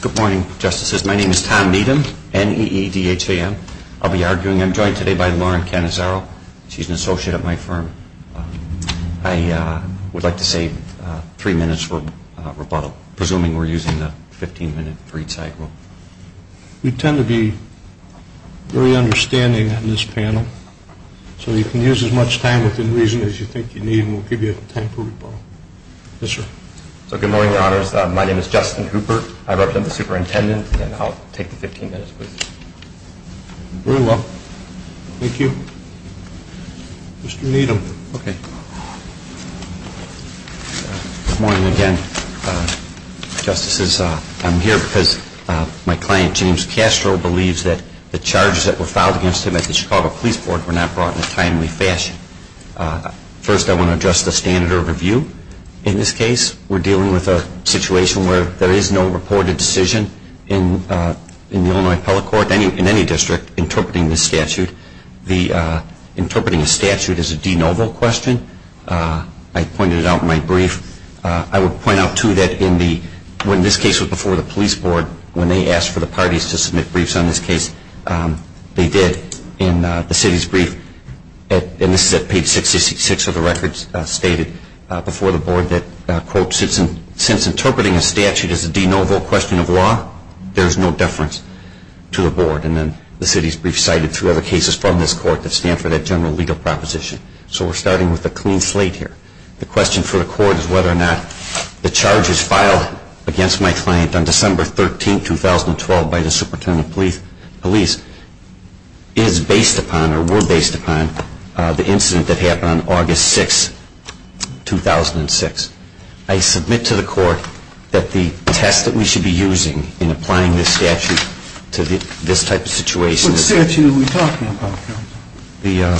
Good morning. Justices, my name is Tom Needham. I'll be arguing. I'm joined today by Lauren Cannizzaro. She's an associate at my firm. I would like to save three minutes for rebuttal, presuming we're using the 15-minute free time rule. We tend to be very understanding on this panel, so you can use as much time within reason as you think you need, and we'll give you time for rebuttal. Yes, sir. So good morning, Your Honors. My name is Justin Hooper. I represent the superintendent, and I'll take the 15 minutes, please. Very well. Thank you. Mr. Needham. Okay. Good morning again, Justices. I'm here because my client, James Castro, believes that the charges that were filed against him at the Chicago Police Board were not brought in a timely fashion. First, I want to address the standard of review in this case. We're dealing with a situation where there is no reported decision in the Illinois appellate court, in any district, interpreting this statute. Interpreting a statute is a de novo question. I pointed it out in my brief. I would point out, too, that when this case was before the police board, when they asked for the parties to submit briefs on this case, they did in the city's brief, and this is at page 666 of the records stated before the board that, quote, since interpreting a statute is a de novo question of law, there is no deference to the board. And then the city's brief cited two other cases from this court that stand for that general legal proposition. So we're starting with a clean slate here. The question for the court is whether or not the charges filed against my client on December 13, 2012, by the superintendent of police is based upon, or were based upon, the incident that happened on August 6, 2006. I submit to the court that the test that we should be using in applying this statute to this type of situation is... What statute are we talking about? The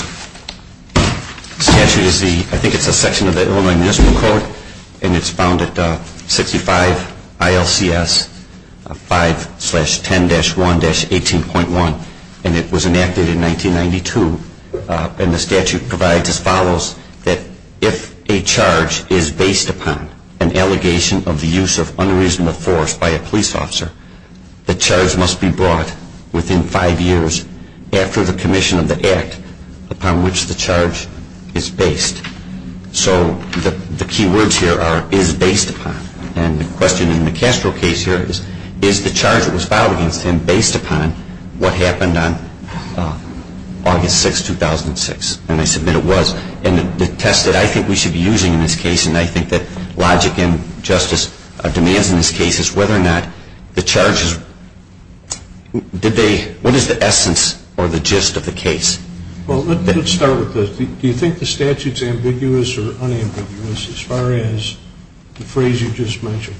statute is the, I think it's a section of the Illinois Municipal Code, and it's found at 65 ILCS 5-10-1-18.1, and it was enacted in 1992. And the statute provides as follows that if a charge is based upon an allegation of the use of unreasonable force by a police officer, the charge must be brought within five years after the commission of the act upon which the charge is based. So the key words here are, is based upon. And the question in the Castro case here is, is the charge that was filed against him based upon what happened on August 6, 2006? And I submit it was. And the test that I think we should be using in this case, and I think that logic and justice demands in this case, is whether or not the charges, did they, what is the essence or the gist of the case? Well, let's start with this. Do you think the statute is ambiguous or unambiguous as far as the phrase you just mentioned?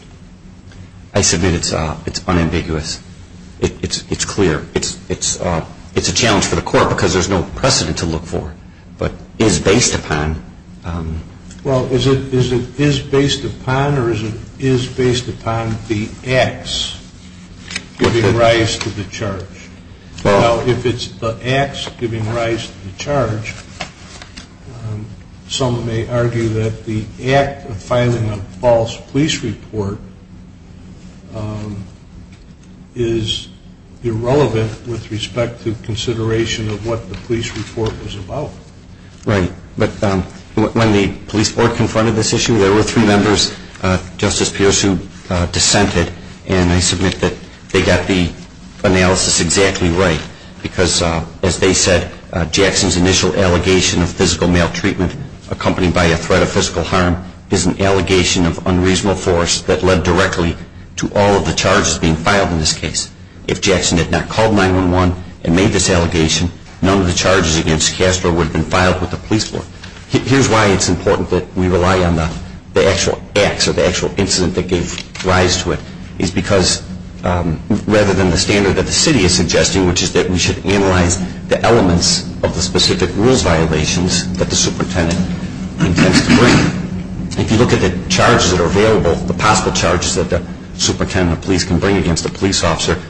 I submit it's unambiguous. It's clear. It's a challenge for the court because there's no precedent to look for. But is based upon... Well, is it is based upon or is it is based upon the acts giving rise to the charge? Well, if it's the acts giving rise to the charge, some may argue that the act of filing a false police report is irrelevant with respect to consideration of what the police report was about. Right. But when the police board confronted this issue, there were three members, Justice Pierce, who dissented. And I submit that they got the analysis exactly right because, as they said, Jackson's initial allegation of physical maltreatment accompanied by a threat of physical harm is an allegation of unreasonable force that led directly to all of the charges being filed in this case. If Jackson had not called 911 and made this allegation, none of the charges against Castro would have been filed with the police board. Here's why it's important that we rely on the actual acts or the actual incident that gave rise to it, is because rather than the standard that the city is suggesting, which is that we should analyze the elements of the specific rules violations that the superintendent intends to bring. If you look at the charges that are available, the possible charges that the superintendent of police can bring against a police officer,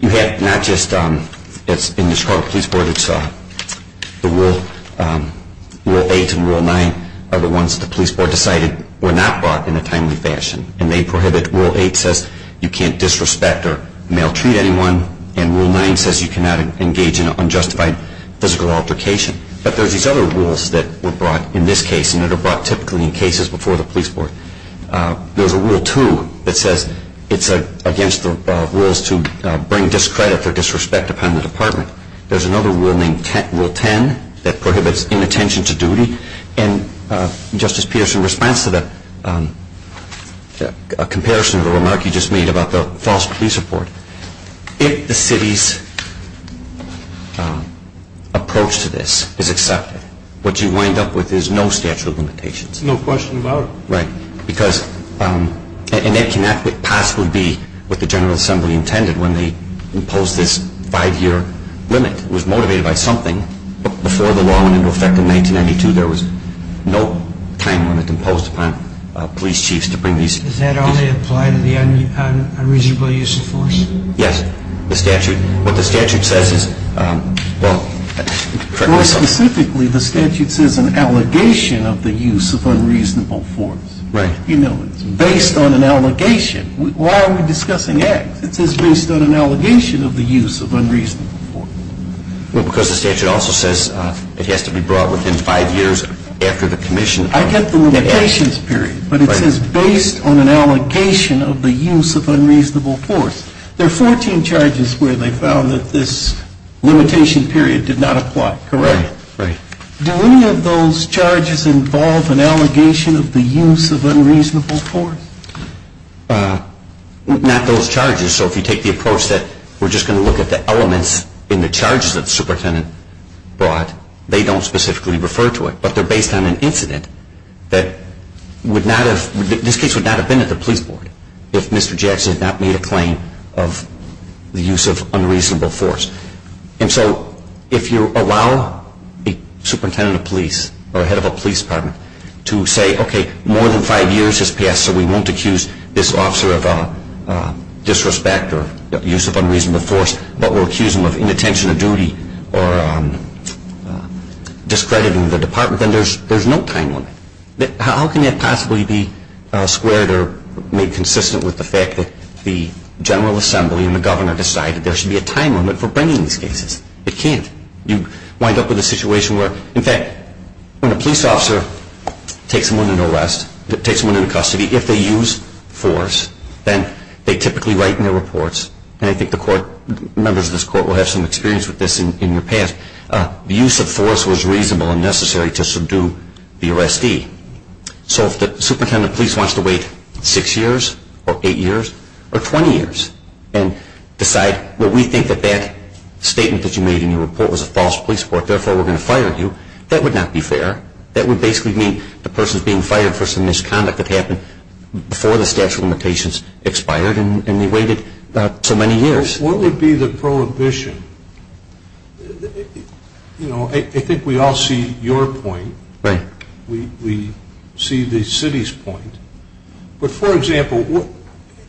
you have not just... It's in the Chicago Police Board. It's the Rule 8 and Rule 9 are the ones the police board decided were not brought in a timely fashion. And they prohibit... Rule 8 says you can't disrespect or maltreat anyone. And Rule 9 says you cannot engage in unjustified physical altercation. But there's these other rules that were brought in this case and that are brought typically in cases before the police board. There's a Rule 2 that says it's against the rules to bring discredit or disrespect upon the department. There's another Rule 10 that prohibits inattention to duty. And Justice Peterson, in response to the comparison of the remark you just made about the false police report, if the city's approach to this is accepted, what you wind up with is no statute of limitations. No question about it. Right. And that cannot possibly be what the General Assembly intended when they imposed this five-year limit. It was motivated by something. But before the law went into effect in 1992, there was no time limit imposed upon police chiefs to bring these... Does that only apply to the unreasonable use of force? Yes. The statute... What the statute says is... More specifically, the statute says an allegation of the use of unreasonable force. Right. You know, it's based on an allegation. Why are we discussing X? It says based on an allegation of the use of unreasonable force. Well, because the statute also says it has to be brought within five years after the commission... I get the limitations period. But it says based on an allegation of the use of unreasonable force. There are 14 charges where they found that this limitation period did not apply. Correct? Right. Do any of those charges involve an allegation of the use of unreasonable force? Not those charges. So if you take the approach that we're just going to look at the elements in the charges that the superintendent brought, they don't specifically refer to it. But they're based on an incident that would not have... This case would not have been at the police board if Mr. Jackson had not made a claim of the use of unreasonable force. And so if you allow a superintendent of police or a head of a police department to say, okay, more than five years has passed so we won't accuse this officer of disrespect or use of unreasonable force, but we'll accuse him of inattention to duty or discrediting the department, then there's no time limit. How can that possibly be squared or made consistent with the fact that the General Assembly and the governor decided there should be a time limit for bringing these cases? It can't. You wind up with a situation where, in fact, when a police officer takes someone into custody, if they use force, then they typically write in their reports, and I think the members of this court will have some experience with this in your past, the use of force was reasonable and necessary to subdue the arrestee. So if the superintendent of police wants to wait six years or eight years or twenty years and decide, well, we think that that statement that you made in your report was a false police report, therefore we're going to fire you, that would not be fair. That would basically mean the person's being fired for some misconduct that happened before the statute of limitations expired and they waited so many years. What would be the prohibition? I think we all see your point. We see the city's point. But for example,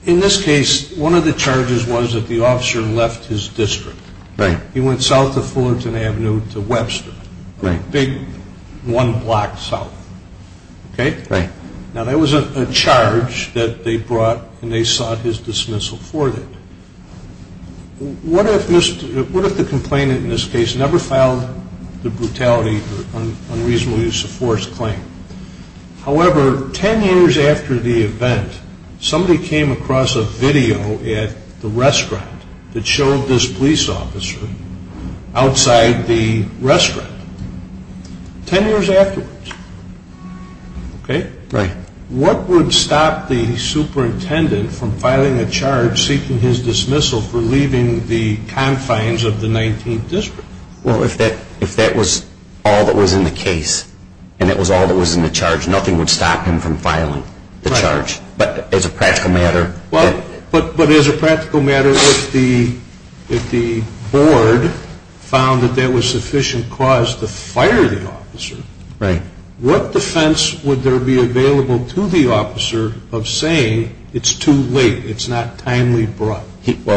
in this case, one of the charges was that the officer left his district. He went south of Fullerton Avenue to Webster, a big one block south. Now that was a charge that they brought and they sought his dismissal for that. What if the complainant in this case never filed the brutality or unreasonable use of force claim? However, ten years after the event, somebody came across a video at the restaurant that showed this police officer outside the restaurant. Ten years afterwards, okay? What would stop the superintendent from filing a charge seeking his dismissal for leaving the confines of the 19th District? Well, if that was all that was in the case and it was all that was in the charge, nothing would stop him from filing the charge. But as a practical matter... Well,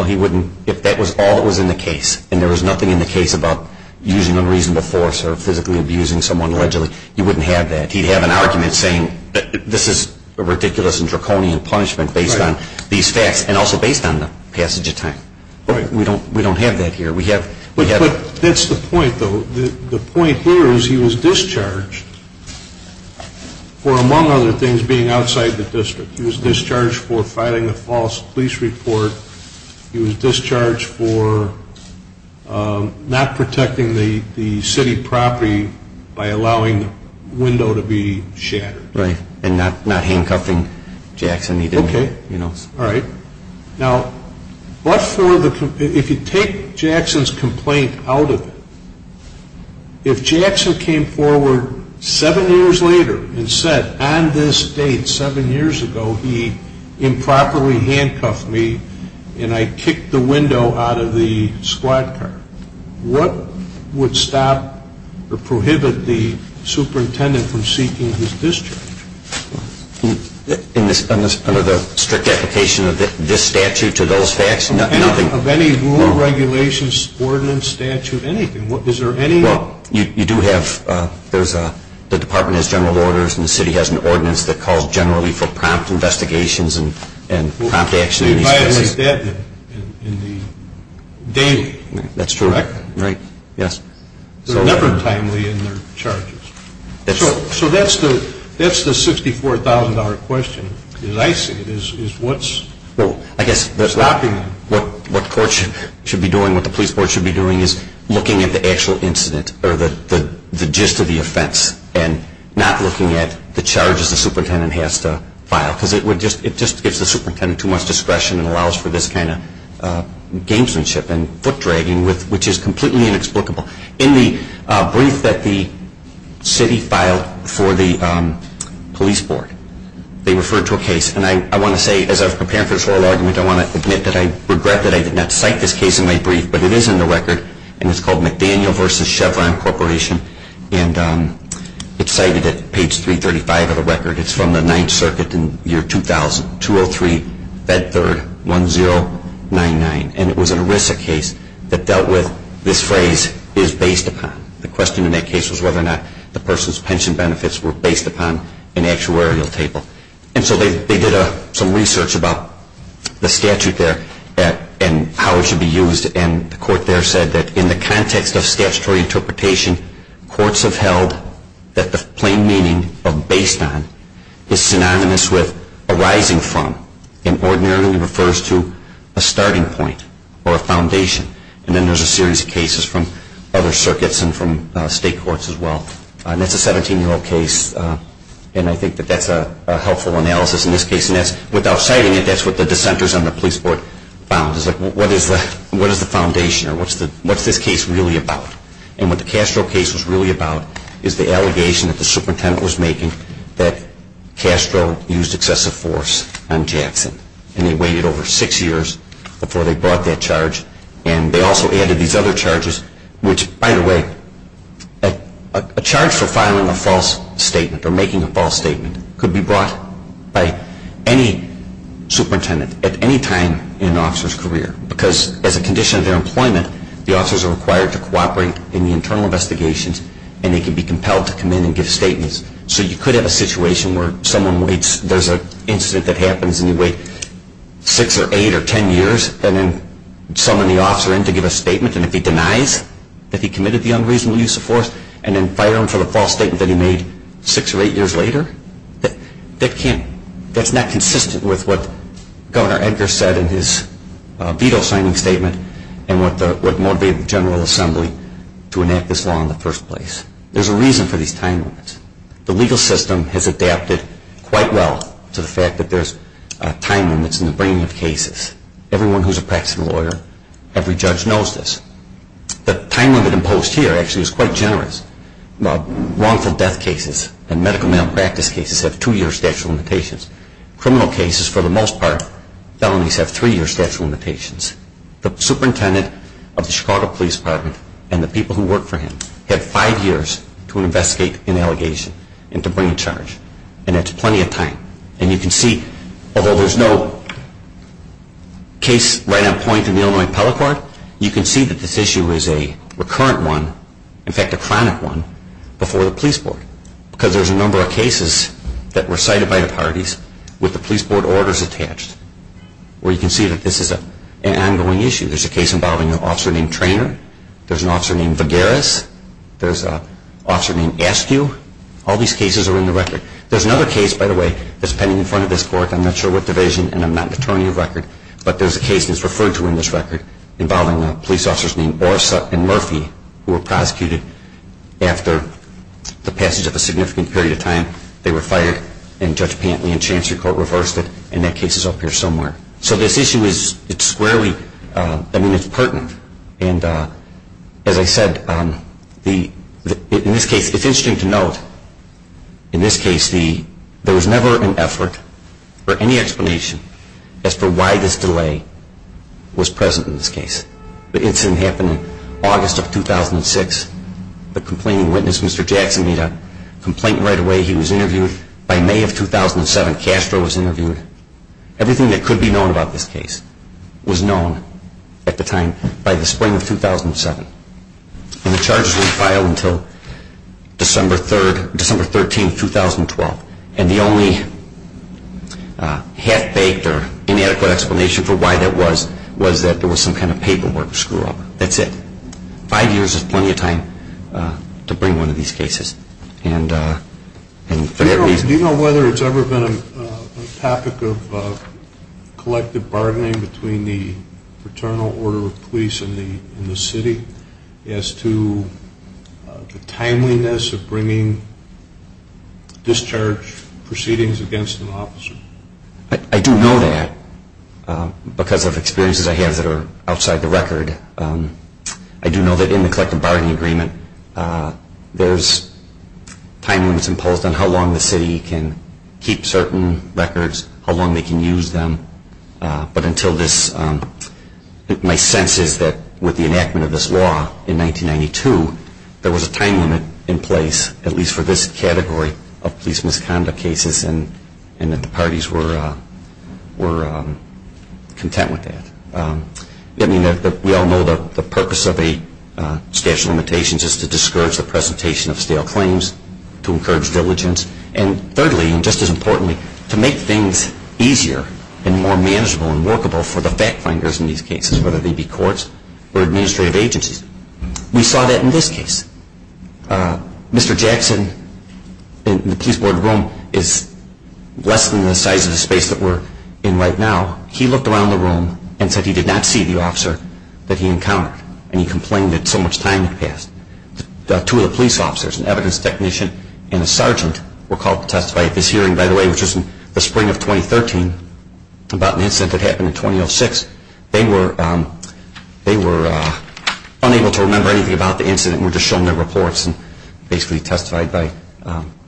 he wouldn't. If that was all that was in the case and there was nothing in the case about using unreasonable force or physically abusing someone allegedly, he wouldn't have that. He'd have an argument saying this is a ridiculous and draconian punishment based on these facts and also based on the passage of time. We don't have that here. But that's the point though. The point here is he was discharged for among other things being outside the district. He was discharged for filing a false police report. He was discharged for not protecting the city property by allowing the window to be shattered. Right. And not handcuffing Jackson. Okay. All right. Now, if you take Jackson's complaint out of it, if Jackson came forward seven years later and said on this date seven years ago he improperly handcuffed me and I kicked the window out of the squad car, what would stop or prohibit the superintendent from seeking his discharge? Under the strict application of this statute to those facts, nothing. Of any rule, regulations, ordinance, statute, anything. Is there any? Well, you do have, there's a, the department has general orders and the city has an ordinance that calls generally for prompt investigations and prompt action. I guess what the court should be doing, what the police should be doing is looking at the actual incident or the gist of the offense and not looking at the charges the superintendent has to file. Because it would just, it just gives the superintendent too much discretion and allows for this kind of gamesmanship and foot dragging which is completely inexplicable. In the brief that the city filed for the police board, they referred to a case, and I want to say as I was preparing for this oral argument, I want to admit that I regret that I did not cite this case in my brief, but it is in the record and it's called McDaniel v. Chevron Corporation and it's cited at page 335 of the record. It's from the 9th Circuit in the year 2000, 203 Bed 3rd 1099. And it was an ERISA case that dealt with this phrase, is based upon. The question in that case was whether or not the person's pension benefits were based upon an actuarial table. And so they did some research about the statute there and how it should be used and the court there said that in the context of statutory interpretation, courts have held that the plain meaning of based on is synonymous with arising from and ordinarily refers to a starting point or a foundation. And then there's a series of cases from other circuits and from state courts as well. And that's a 17-year-old case and I think that that's a helpful analysis in this case. And that's, without citing it, that's what the foundation or what's this case really about. And what the Castro case was really about is the allegation that the superintendent was making that Castro used excessive force on Jackson. And he waited over six years before they brought that charge and they also added these other charges which, by the way, a charge for filing a false statement or making a false statement could be brought by any superintendent at any time in an officer's career because as a condition of their employment, the officers are required to cooperate in the internal investigations and they can be compelled to come in and give statements. So you could have a situation where someone waits, there's an incident that happens and you wait six or eight or ten years and then summon the officer in to give a statement and if he denies that he committed the unreasonable use of force and then fire him for the false statement that he made six or eight years later, that can't, that's not consistent with what Governor Castro's real signing statement and what motivated the General Assembly to enact this law in the first place. There's a reason for these time limits. The legal system has adapted quite well to the fact that there's time limits in the bringing of cases. Everyone who's a practicing lawyer, every judge knows this. The time limit imposed here actually is quite generous. Wrongful death cases and medical malpractice cases have two-year statute of limits. The superintendent of the Chicago Police Department and the people who work for him have five years to investigate an allegation and to bring a charge and that's plenty of time. And you can see, although there's no case right on point in the Illinois Appellate Court, you can see that this issue is a recurrent one, in fact a chronic one, before the police board because there's a number of cases that were cited by the parties with the police board orders attached where you can see that this is an ongoing issue. There's a case involving an officer named Traynor. There's an officer named Vigueras. There's an officer named Askew. All these cases are in the record. There's another case, by the way, that's pending in front of this court. I'm not sure what division and I'm not an attorney of record, but there's a case that's referred to in this record involving police officers named Borsa and Murphy who were prosecuted after the passage of a significant period of time. They were fired and Judge Pantley and Chancellor Coe reversed it and that case is up here somewhere. So this issue is squarely, I mean it's pertinent. And as I said, in this case, it's interesting to note, in this case, there was never an effort or any explanation as to why this delay was present in this case. The incident happened in August of 2006. The way he was interviewed, by May of 2007 Castro was interviewed. Everything that could be known about this case was known at the time by the spring of 2007. And the charges were filed until December 13, 2012. And the only half-baked or inadequate explanation for why that was was that there was some kind of paperwork screw-up. That's it. Five years is plenty of time to bring one of these cases. And for that reason... Do you know whether it's ever been a topic of collective bargaining between the paternal order of police and the city as to the timeliness of bringing discharge proceedings against an officer? I do know that because of experiences I have that are outside the record. I do know that in the collective bargaining agreement, there's time limits imposed on how long the city can keep certain records, how long they can use them. But until this, my sense is that with the enactment of this law in 1992, there was a time limit in place, at least for this category of police misconduct cases, and that the parties were content with that. We all know that the purpose of a statute of limitations is to discourage the presentation of stale claims, to encourage diligence, and thirdly, and just as importantly, to make things easier and more manageable and workable for the back-finders in these cases, whether they be courts or administrative agencies. We saw that in this case. Mr. Jackson, in the police board room, is less than the size of the space that we're in right now. He looked around the room and said he did not see the officer that he encountered, and he complained that so much time had passed. Two of the police officers, an evidence technician and a sergeant, were called to testify at this hearing, by the way, which was in the spring of 2013 about an incident that happened in 2006. They were unable to remember anything about the incident and were just shown their reports and basically testified by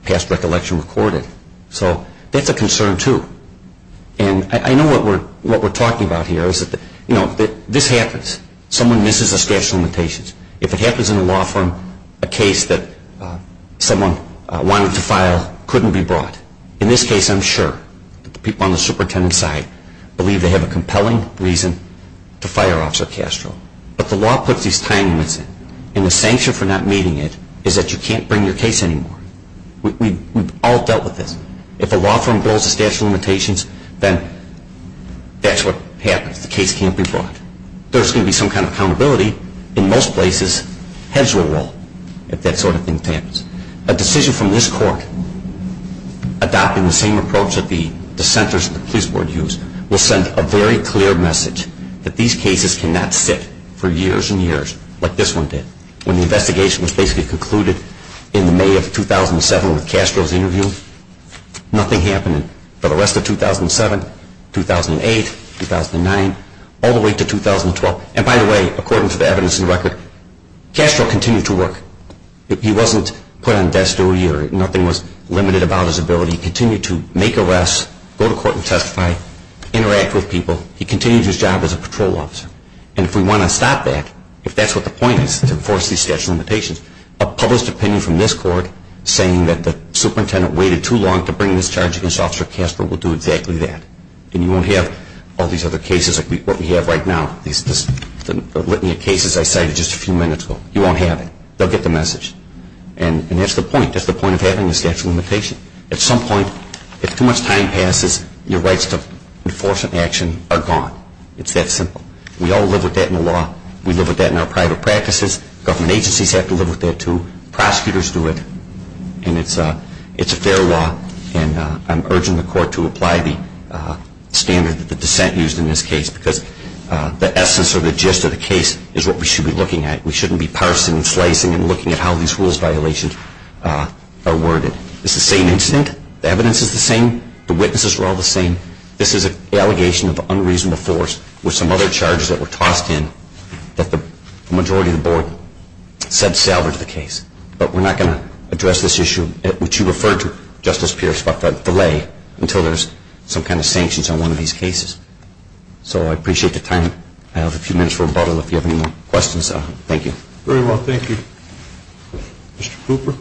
past recollection recorded. So that's a concern, too. And I know what we're talking about here is that, you know, this happens. Someone misses a statute of limitations. If it happens in a law firm, a case that someone wanted to file couldn't be brought. In this case, I'm sure that the people on the superintendent side believe they have a compelling reason to fire Officer Castro. But the law puts these time limits in, and the sanction for not meeting it is that you can't bring your case anymore. We've all dealt with this. If a law firm blows the statute of limitations, then that's what happens. The case can't be brought. There's going to be some kind of accountability. In most places, heads will roll if that sort of thing happens. A decision from this court adopting the same approach that the dissenters and the police board use will send a very clear message that these cases cannot sit for years and years like this one did when the investigation was basically concluded in the May of 2007 with Castro's interview. Nothing happened for the rest of 2007, 2008, 2009, all the way to 2012. And by the way, according to the evidence and record, Castro continued to work. He wasn't put on desk duty or nothing was limited about his ability. He continued to make arrests, go to court and testify, interact with people. He continued his job as a patrol officer. And if we want to stop that, if that's what the point is to enforce these statute of limitations, a published opinion from this court saying that the superintendent waited too long to bring this charge against Officer Castro will do exactly that. And you won't have all these other cases like what we have right now, these litany of cases I cited just a few minutes ago. You won't have it. They'll get the message. And that's the point. That's the point of having the statute of limitations. At some point, if too much time passes, your rights to enforce an action are gone. It's that simple. We all live with that in the law. We live with that in our private practices. Government agencies have to live with that too. Prosecutors do it. And it's a fair law. And I'm urging the court to apply the standard that the dissent used in this case because the essence or the gist of the case is what we should be looking at. We shouldn't be parsing and slicing and looking at how these rules violations are worded. It's the same incident. The evidence is the same. The witnesses are all the same. This is an allegation of unreasonable force with some other charges that were tossed in that the majority of the board said salvaged the case. But we're not going to address this issue, which you referred to, Justice Pierce, about the lay, until there's some kind of sanctions on one of these cases. So I appreciate the time. I have a few minutes for rebuttal if you have any more questions. Thank you. Very well. Thank you. Mr. Hooper.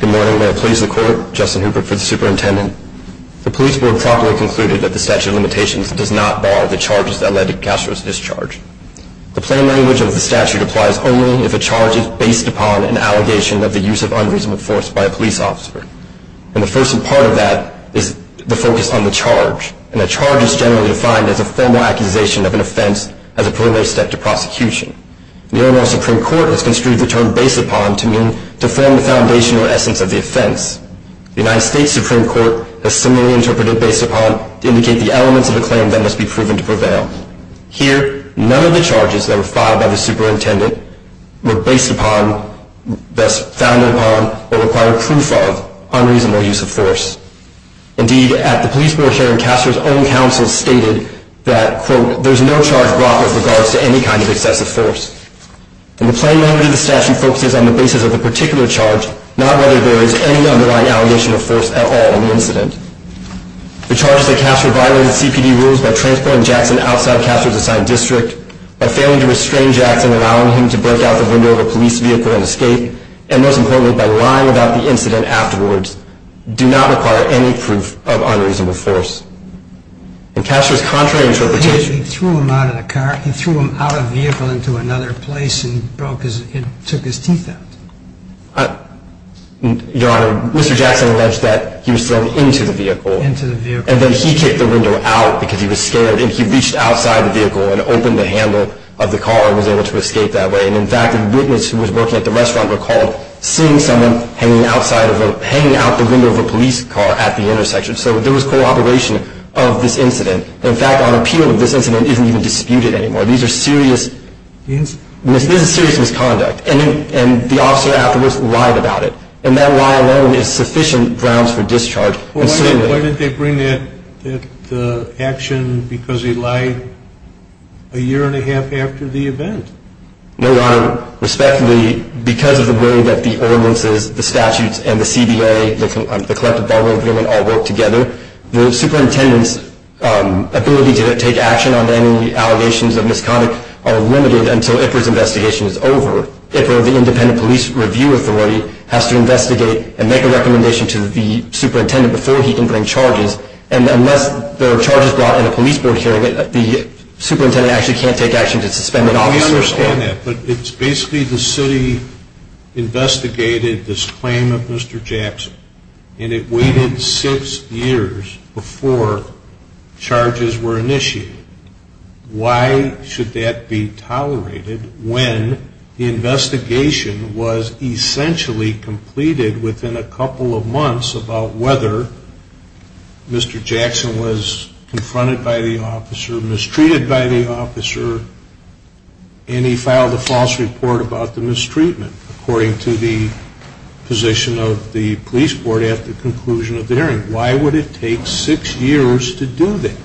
Good morning. May it please the court, Justin Hooper for the superintendent. The police board properly concluded that the statute of limitations does not bar the charges that led to Castro's discharge. The plain language of the statute applies only if a charge is based upon an allegation of the use of unreasonable force by a police officer. And the first part of that is the focus on the charge. And a charge is generally defined as a formal accusation of an offense as a preliminary step to prosecution. The overall Supreme Court has construed the term based upon to mean to form the foundation or essence of the offense. The United States Supreme Court has similarly interpreted based upon to indicate the elements of a claim that must be proven to prevail. Here, none of the charges that were filed by the superintendent were based upon, thus founded upon, or required proof of unreasonable use of force. Indeed, at the police board hearing, Castro's own counsel stated that, quote, there's no charge brought with regards to any kind of excessive force. And the plain language of the statute focuses on the basis of the particular charge, not whether there is any underlying allegation of force at all in the incident. The charges that Castro violated CPD rules by transporting allowing him to break out the window of a police vehicle and escape, and most importantly, by lying about the incident afterwards, do not require any proof of unreasonable force. In Castro's contrary interpretation... He threw him out of the car. He threw him out of the vehicle into another place and broke his, took his teeth out. Your Honor, Mr. Jackson alleged that he was thrown into the vehicle. Into the vehicle. And then he kicked the window out because he was scared. And he reached outside the car and was able to escape that way. And in fact, the witness who was working at the restaurant recalled seeing someone hanging outside of a, hanging out the window of a police car at the intersection. So there was cooperation of this incident. In fact, our appeal of this incident isn't even disputed anymore. These are serious... Misconduct. This is serious misconduct. And the officer afterwards lied about it. And that lie alone is sufficient grounds for discharge. Well, why did they bring that action because he lied a year and a half after the event? No, Your Honor. Respectfully, because of the way that the ordinances, the statutes, and the CBA, the Collective Bargain Agreement all work together, the superintendent's ability to take action on any allegations of misconduct are limited until IPR's investigation is over. IPR, the Independent Police Review Authority, has to investigate and make a recommendation to the superintendent before he can bring charges. And unless there are charges brought in a police board hearing, the superintendent actually can't take action to suspend the officer. I understand that. But it's basically the city investigated this claim of Mr. Jackson. And it waited six years before charges were initiated. Why should that be tolerated when the investigation was essentially completed within a couple of months about whether Mr. Jackson was confronted by the officer, mistreated by the officer, and he filed a false report about the mistreatment according to the position of the police board at the conclusion of the hearing? Why would it take six years to do that?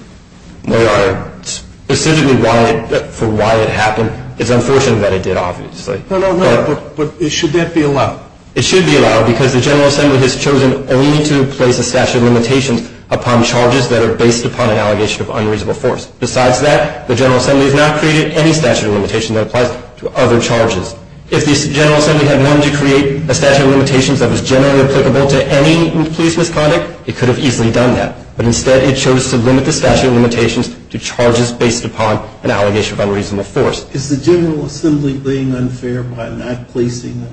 Your Honor, specifically for why it happened, it's unfortunate that it did, obviously. No, no, no. But should that be allowed? It should be allowed because the General Assembly has chosen only to place a statute of limitations upon charges that are based upon an allegation of unreasonable force. Besides that, the General Assembly has not created any statute of limitations that applies to other charges. If the General Assembly had wanted to create a statute of limitations that was generally applicable to any police misconduct, it could have easily done that. But instead, it chose to limit the statute of limitations to charges based upon an allegation of unreasonable force. Is the General Assembly being unfair by not placing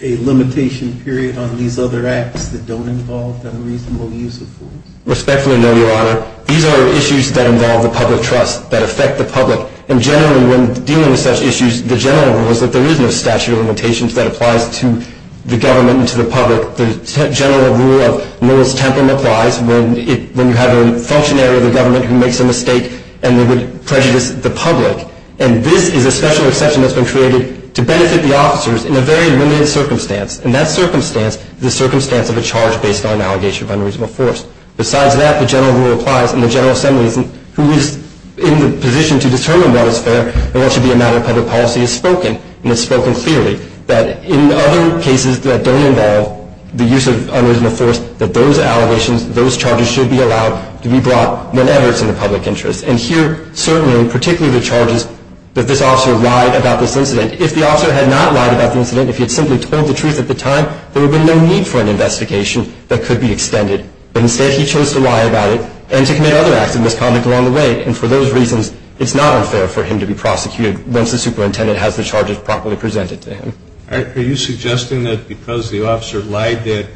a limitation period on these other acts that don't involve unreasonable use of force? Respectfully, no, Your Honor. These are issues that involve the public trust, that affect the public. And generally, when dealing with such issues, the general rule is that there is no statute of limitations that applies to the government and to the public. The general rule of no one's temperment applies when you have a functionary of the government who makes a mistake and they would prejudice the public. And this is a special exception that has been created to benefit the officers in a very limited circumstance. And that circumstance is the circumstance of a charge based on an allegation of unreasonable force. Besides that, the general rule applies. And the General Assembly, who is in the position to determine what is fair and what should be a matter of public policy, has spoken. And it's spoken clearly that in other cases that don't involve the use of unreasonable force, that those allegations, those charges should be allowed to be brought whenever it's in the public interest. And here, certainly, particularly the charges that this officer lied about this incident. If the officer had not lied about the incident, if he had simply told the truth at the time, there would have been no need for an investigation that could be extended. But instead, he chose to lie about it and to commit other acts of misconduct along the way. And for those reasons, it's not unfair for him to be prosecuted once the charges are properly presented to him. Are you suggesting that because the officer lied that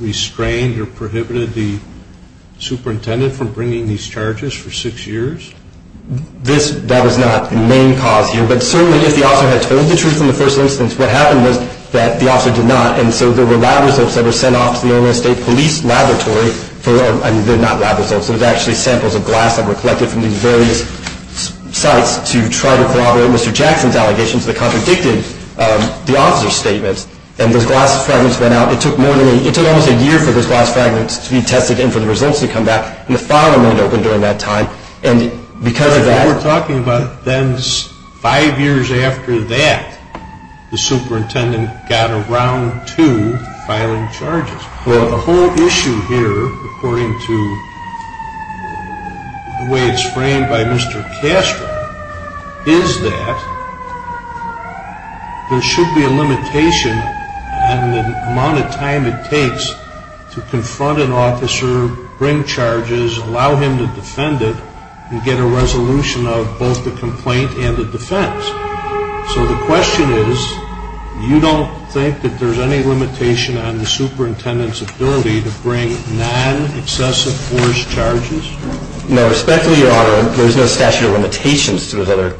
restrained or prohibited the superintendent from bringing these charges for six years? This, that was not the main cause here. But certainly, if the officer had told the truth in the first instance, what happened was that the officer did not. And so there were lab results that were sent off to the Illinois State Police Laboratory for, I mean, they're not lab results. Those are actually samples of glass that were collected from these various sites to try to corroborate Mr. Jackson's allegations that contradicted the officer's statements. And those glass fragments went out. It took more than a, it took almost a year for those glass fragments to be tested and for the results to come back. And the filing went open during that time. And because of that... Well, we're talking about then five years after that, the superintendent got around to filing charges. Well... The issue here, according to the way it's framed by Mr. Castro, is that there should be a limitation on the amount of time it takes to confront an officer, bring charges, allow him to defend it and get a resolution of both the complaint and the defense. So the question is, you don't think that there's any limitation on the superintendent's ability to bring non-excessive force charges? No. Respectfully, Your Honor, there's no statute of limitations to those other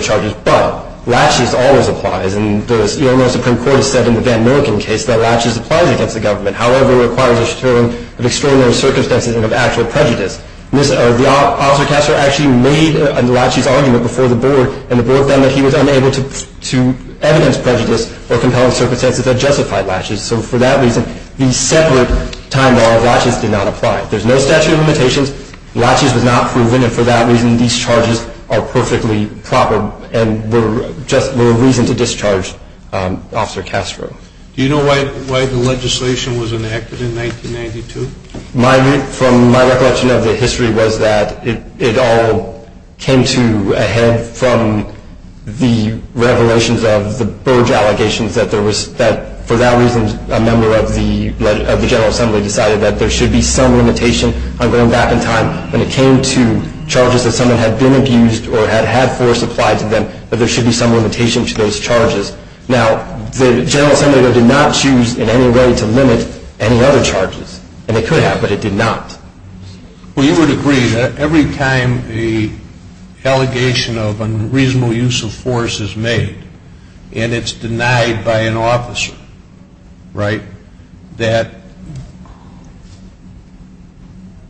charges. But laches always applies. And the Illinois Supreme Court has said in the Van Milliken case that laches applies against the government. However, it requires a deterrent of extraordinary circumstances and of actual prejudice. The officer Castro actually made a laches argument before the case. He was able to evidence prejudice or compelling circumstances that justified laches. So for that reason, the separate time law of laches did not apply. There's no statute of limitations. Laches was not proven. And for that reason, these charges are perfectly proper and were a reason to discharge Officer Castro. Do you know why the legislation was enacted in 1992? From my recollection of the history was that it all came to a head from the revelations of the Burge allegations that for that reason, a member of the General Assembly decided that there should be some limitation on going back in time. When it came to charges that someone had been abused or had had force applied to them, that there should be some limitation to those charges. Now, the General Assembly, though, did not choose in any way to limit any other charges. And it could have, but it did not. Well, you would agree that every time an allegation of unreasonable use of force is made, and it's denied by an officer, right, that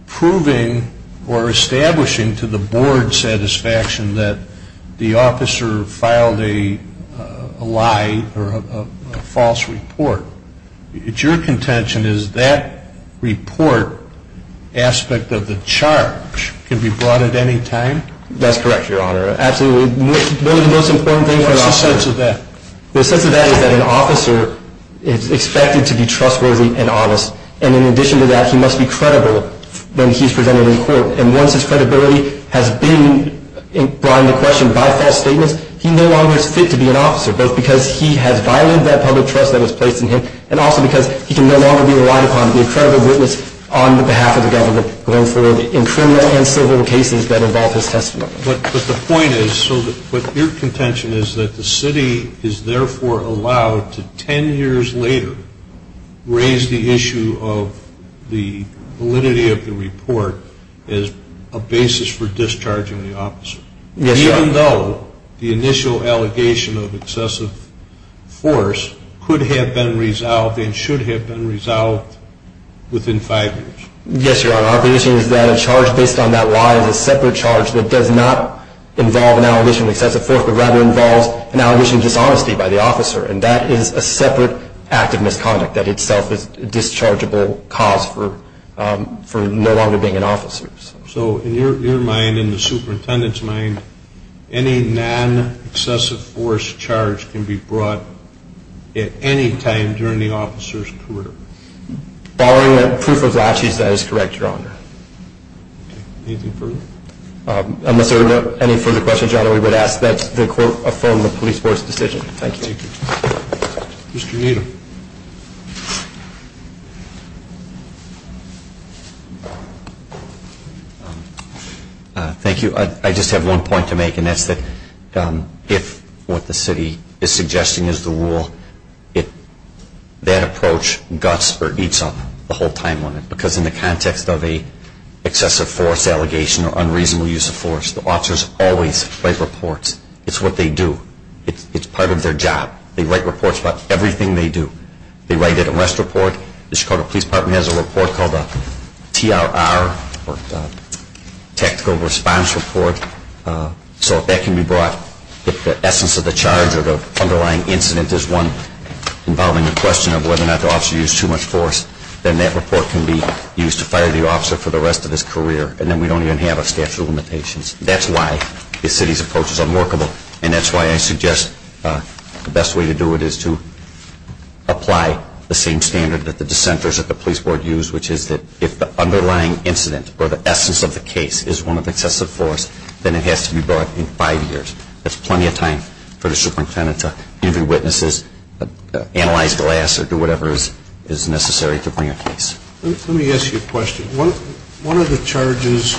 proving or establishing to the board satisfaction that the officer filed a lie or a false report, it's your contention is that report aspect of the charge can be brought at any time? That's correct, Your Honor. Absolutely. One of the most important things for an officer What's the sense of that? The sense of that is that an officer is expected to be trustworthy and honest. And in addition to that, he must be credible when he's presented in court. And once his credibility has been brought into question by false statements, he no longer is fit to be an officer, both because he has violated that public trust that was placed in him, and also because he can no longer be relied upon to be a credible witness on behalf of the government going forward in criminal and civil cases that involve his testimony. But the point is, so what your contention is that the city is therefore allowed to ten years later raise the issue of the validity of the report as a basis for discharging the charge? Yes, Your Honor. Even though the initial allegation of excessive force could have been resolved and should have been resolved within five years? Yes, Your Honor. Our position is that a charge based on that lie is a separate charge that does not involve an allegation of excessive force, but rather involves an allegation of dishonesty by the officer. And that is a separate act of misconduct that itself is a dischargeable cause for no longer being an officer. So, in your mind, in the superintendent's mind, any non-excessive force charge can be brought at any time during the officer's career? Following the proof of latches, that is correct, Your Honor. Anything further? Unless there are any further questions, Your Honor, we would ask that the court affirm the police force decision. Thank you. Thank you. Mr. Needham. Thank you. I just have one point to make, and that is that if what the city is suggesting is the rule, that approach guts or eats up the whole timeline. Because in the context of an excessive force allegation or unreasonable use of force, the officers always write reports. It is what they do. It is part of their job. They write reports about everything they do. They write an arrest report. The Chicago Police Department has a report called a TRR, or tactical response report. So if that can be brought, if the essence of the charge or the underlying incident is one involving a question of whether or not the officer used too much force, then that report can be used to fire the officer for the rest of his career. And then we don't even have a statute of limitations. That is why the city's approach is unworkable. And that is why I suggest the best way to do it is to apply the same standard that the dissenters at the police board use, which is that if the underlying incident or the essence of the case is one of excessive force, then it has to be brought in five years. That is plenty of time for the superintendent to give you witnesses, analyze glass, or do whatever is necessary to bring a case. Let me ask you a question. One of the charges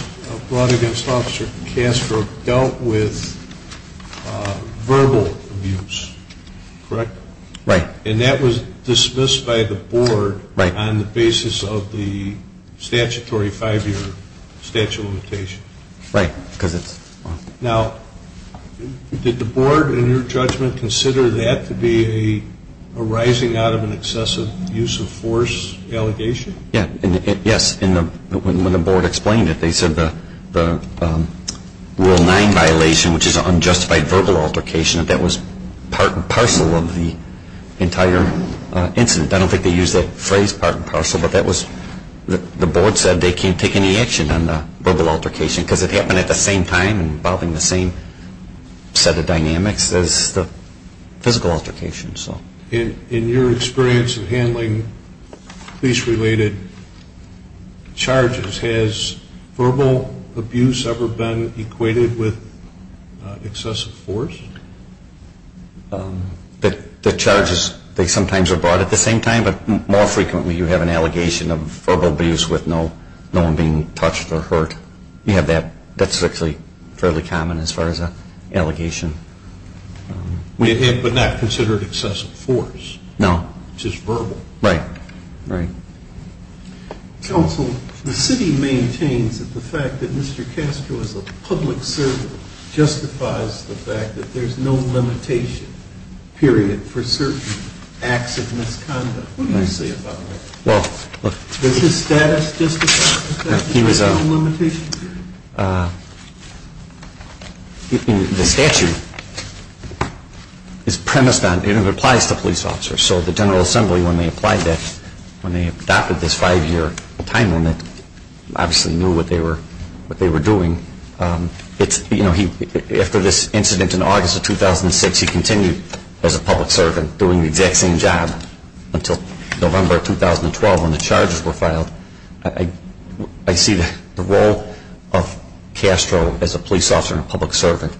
brought against Officer Castro dealt with verbal abuse, correct? And that was dismissed by the board on the basis of the statutory five-year statute of limitations. Now, did the board, in your judgment, consider that to be arising out of an excessive use of force allegation? Yes. When the board explained it, they said the Rule 9 violation, which is an unjustified verbal altercation, that was part and parcel of the entire incident. I don't think they used that phrase, part and parcel, but that was the board said they can't take any action on the verbal altercation because it happened at the same time involving the same set of dynamics as the physical altercation. In your experience of handling police-related charges, has verbal abuse ever been equated with excessive force? The charges, they sometimes are brought at the same time, but more frequently you have an allegation of verbal abuse with no one being touched or hurt. You have that. That's actually fairly common as far as an allegation. But not considered excessive force? No. Just verbal? Right. Counsel, the city maintains that the fact that Mr. Castro is a public servant justifies the fact that there's no limitation period for certain acts of misconduct. What do you say about that? Well, look. Does his status justify the fact that there's no limitation period? The statute is premised on, and it applies to police officers, so the General Assembly when they applied that, when they adopted this five-year time limit, obviously knew what they were doing. After this incident in August of 2006, he continued as a public servant doing the exact same job until November of 2012 when the charges were filed. I see the role of Castro as a police officer and a public servant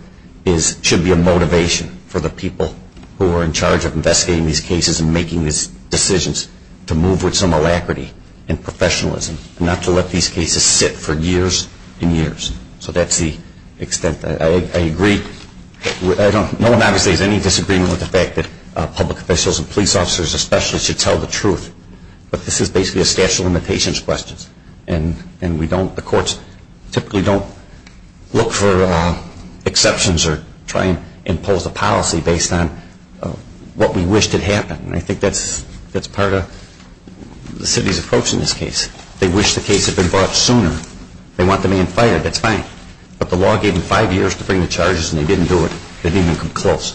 should be a motivation for the people who are in charge of investigating these cases and making these decisions to move with some alacrity and professionalism, not to let these cases sit for years and years. So that's the extent. I agree. No one obviously has any disagreement with the fact that public officials and police officers especially should tell the truth, but this is basically a statute of limitations question. And we don't, the courts typically don't look for exceptions or try and impose a policy based on what we wish did happen. And I think that's part of the city's approach in this case. They wish the case had been brought sooner. They want the man fired. That's fine. But the law gave them five years to bring the charges and they didn't do it. They didn't even come close.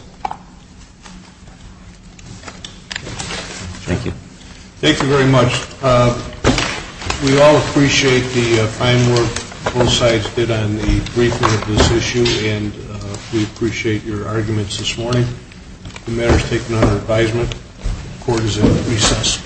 Thank you. Thank you very much. We all appreciate the fine work both sides did on the briefing of this issue and we appreciate your arguments this morning. The matter is taken under advisement. The court is in recess.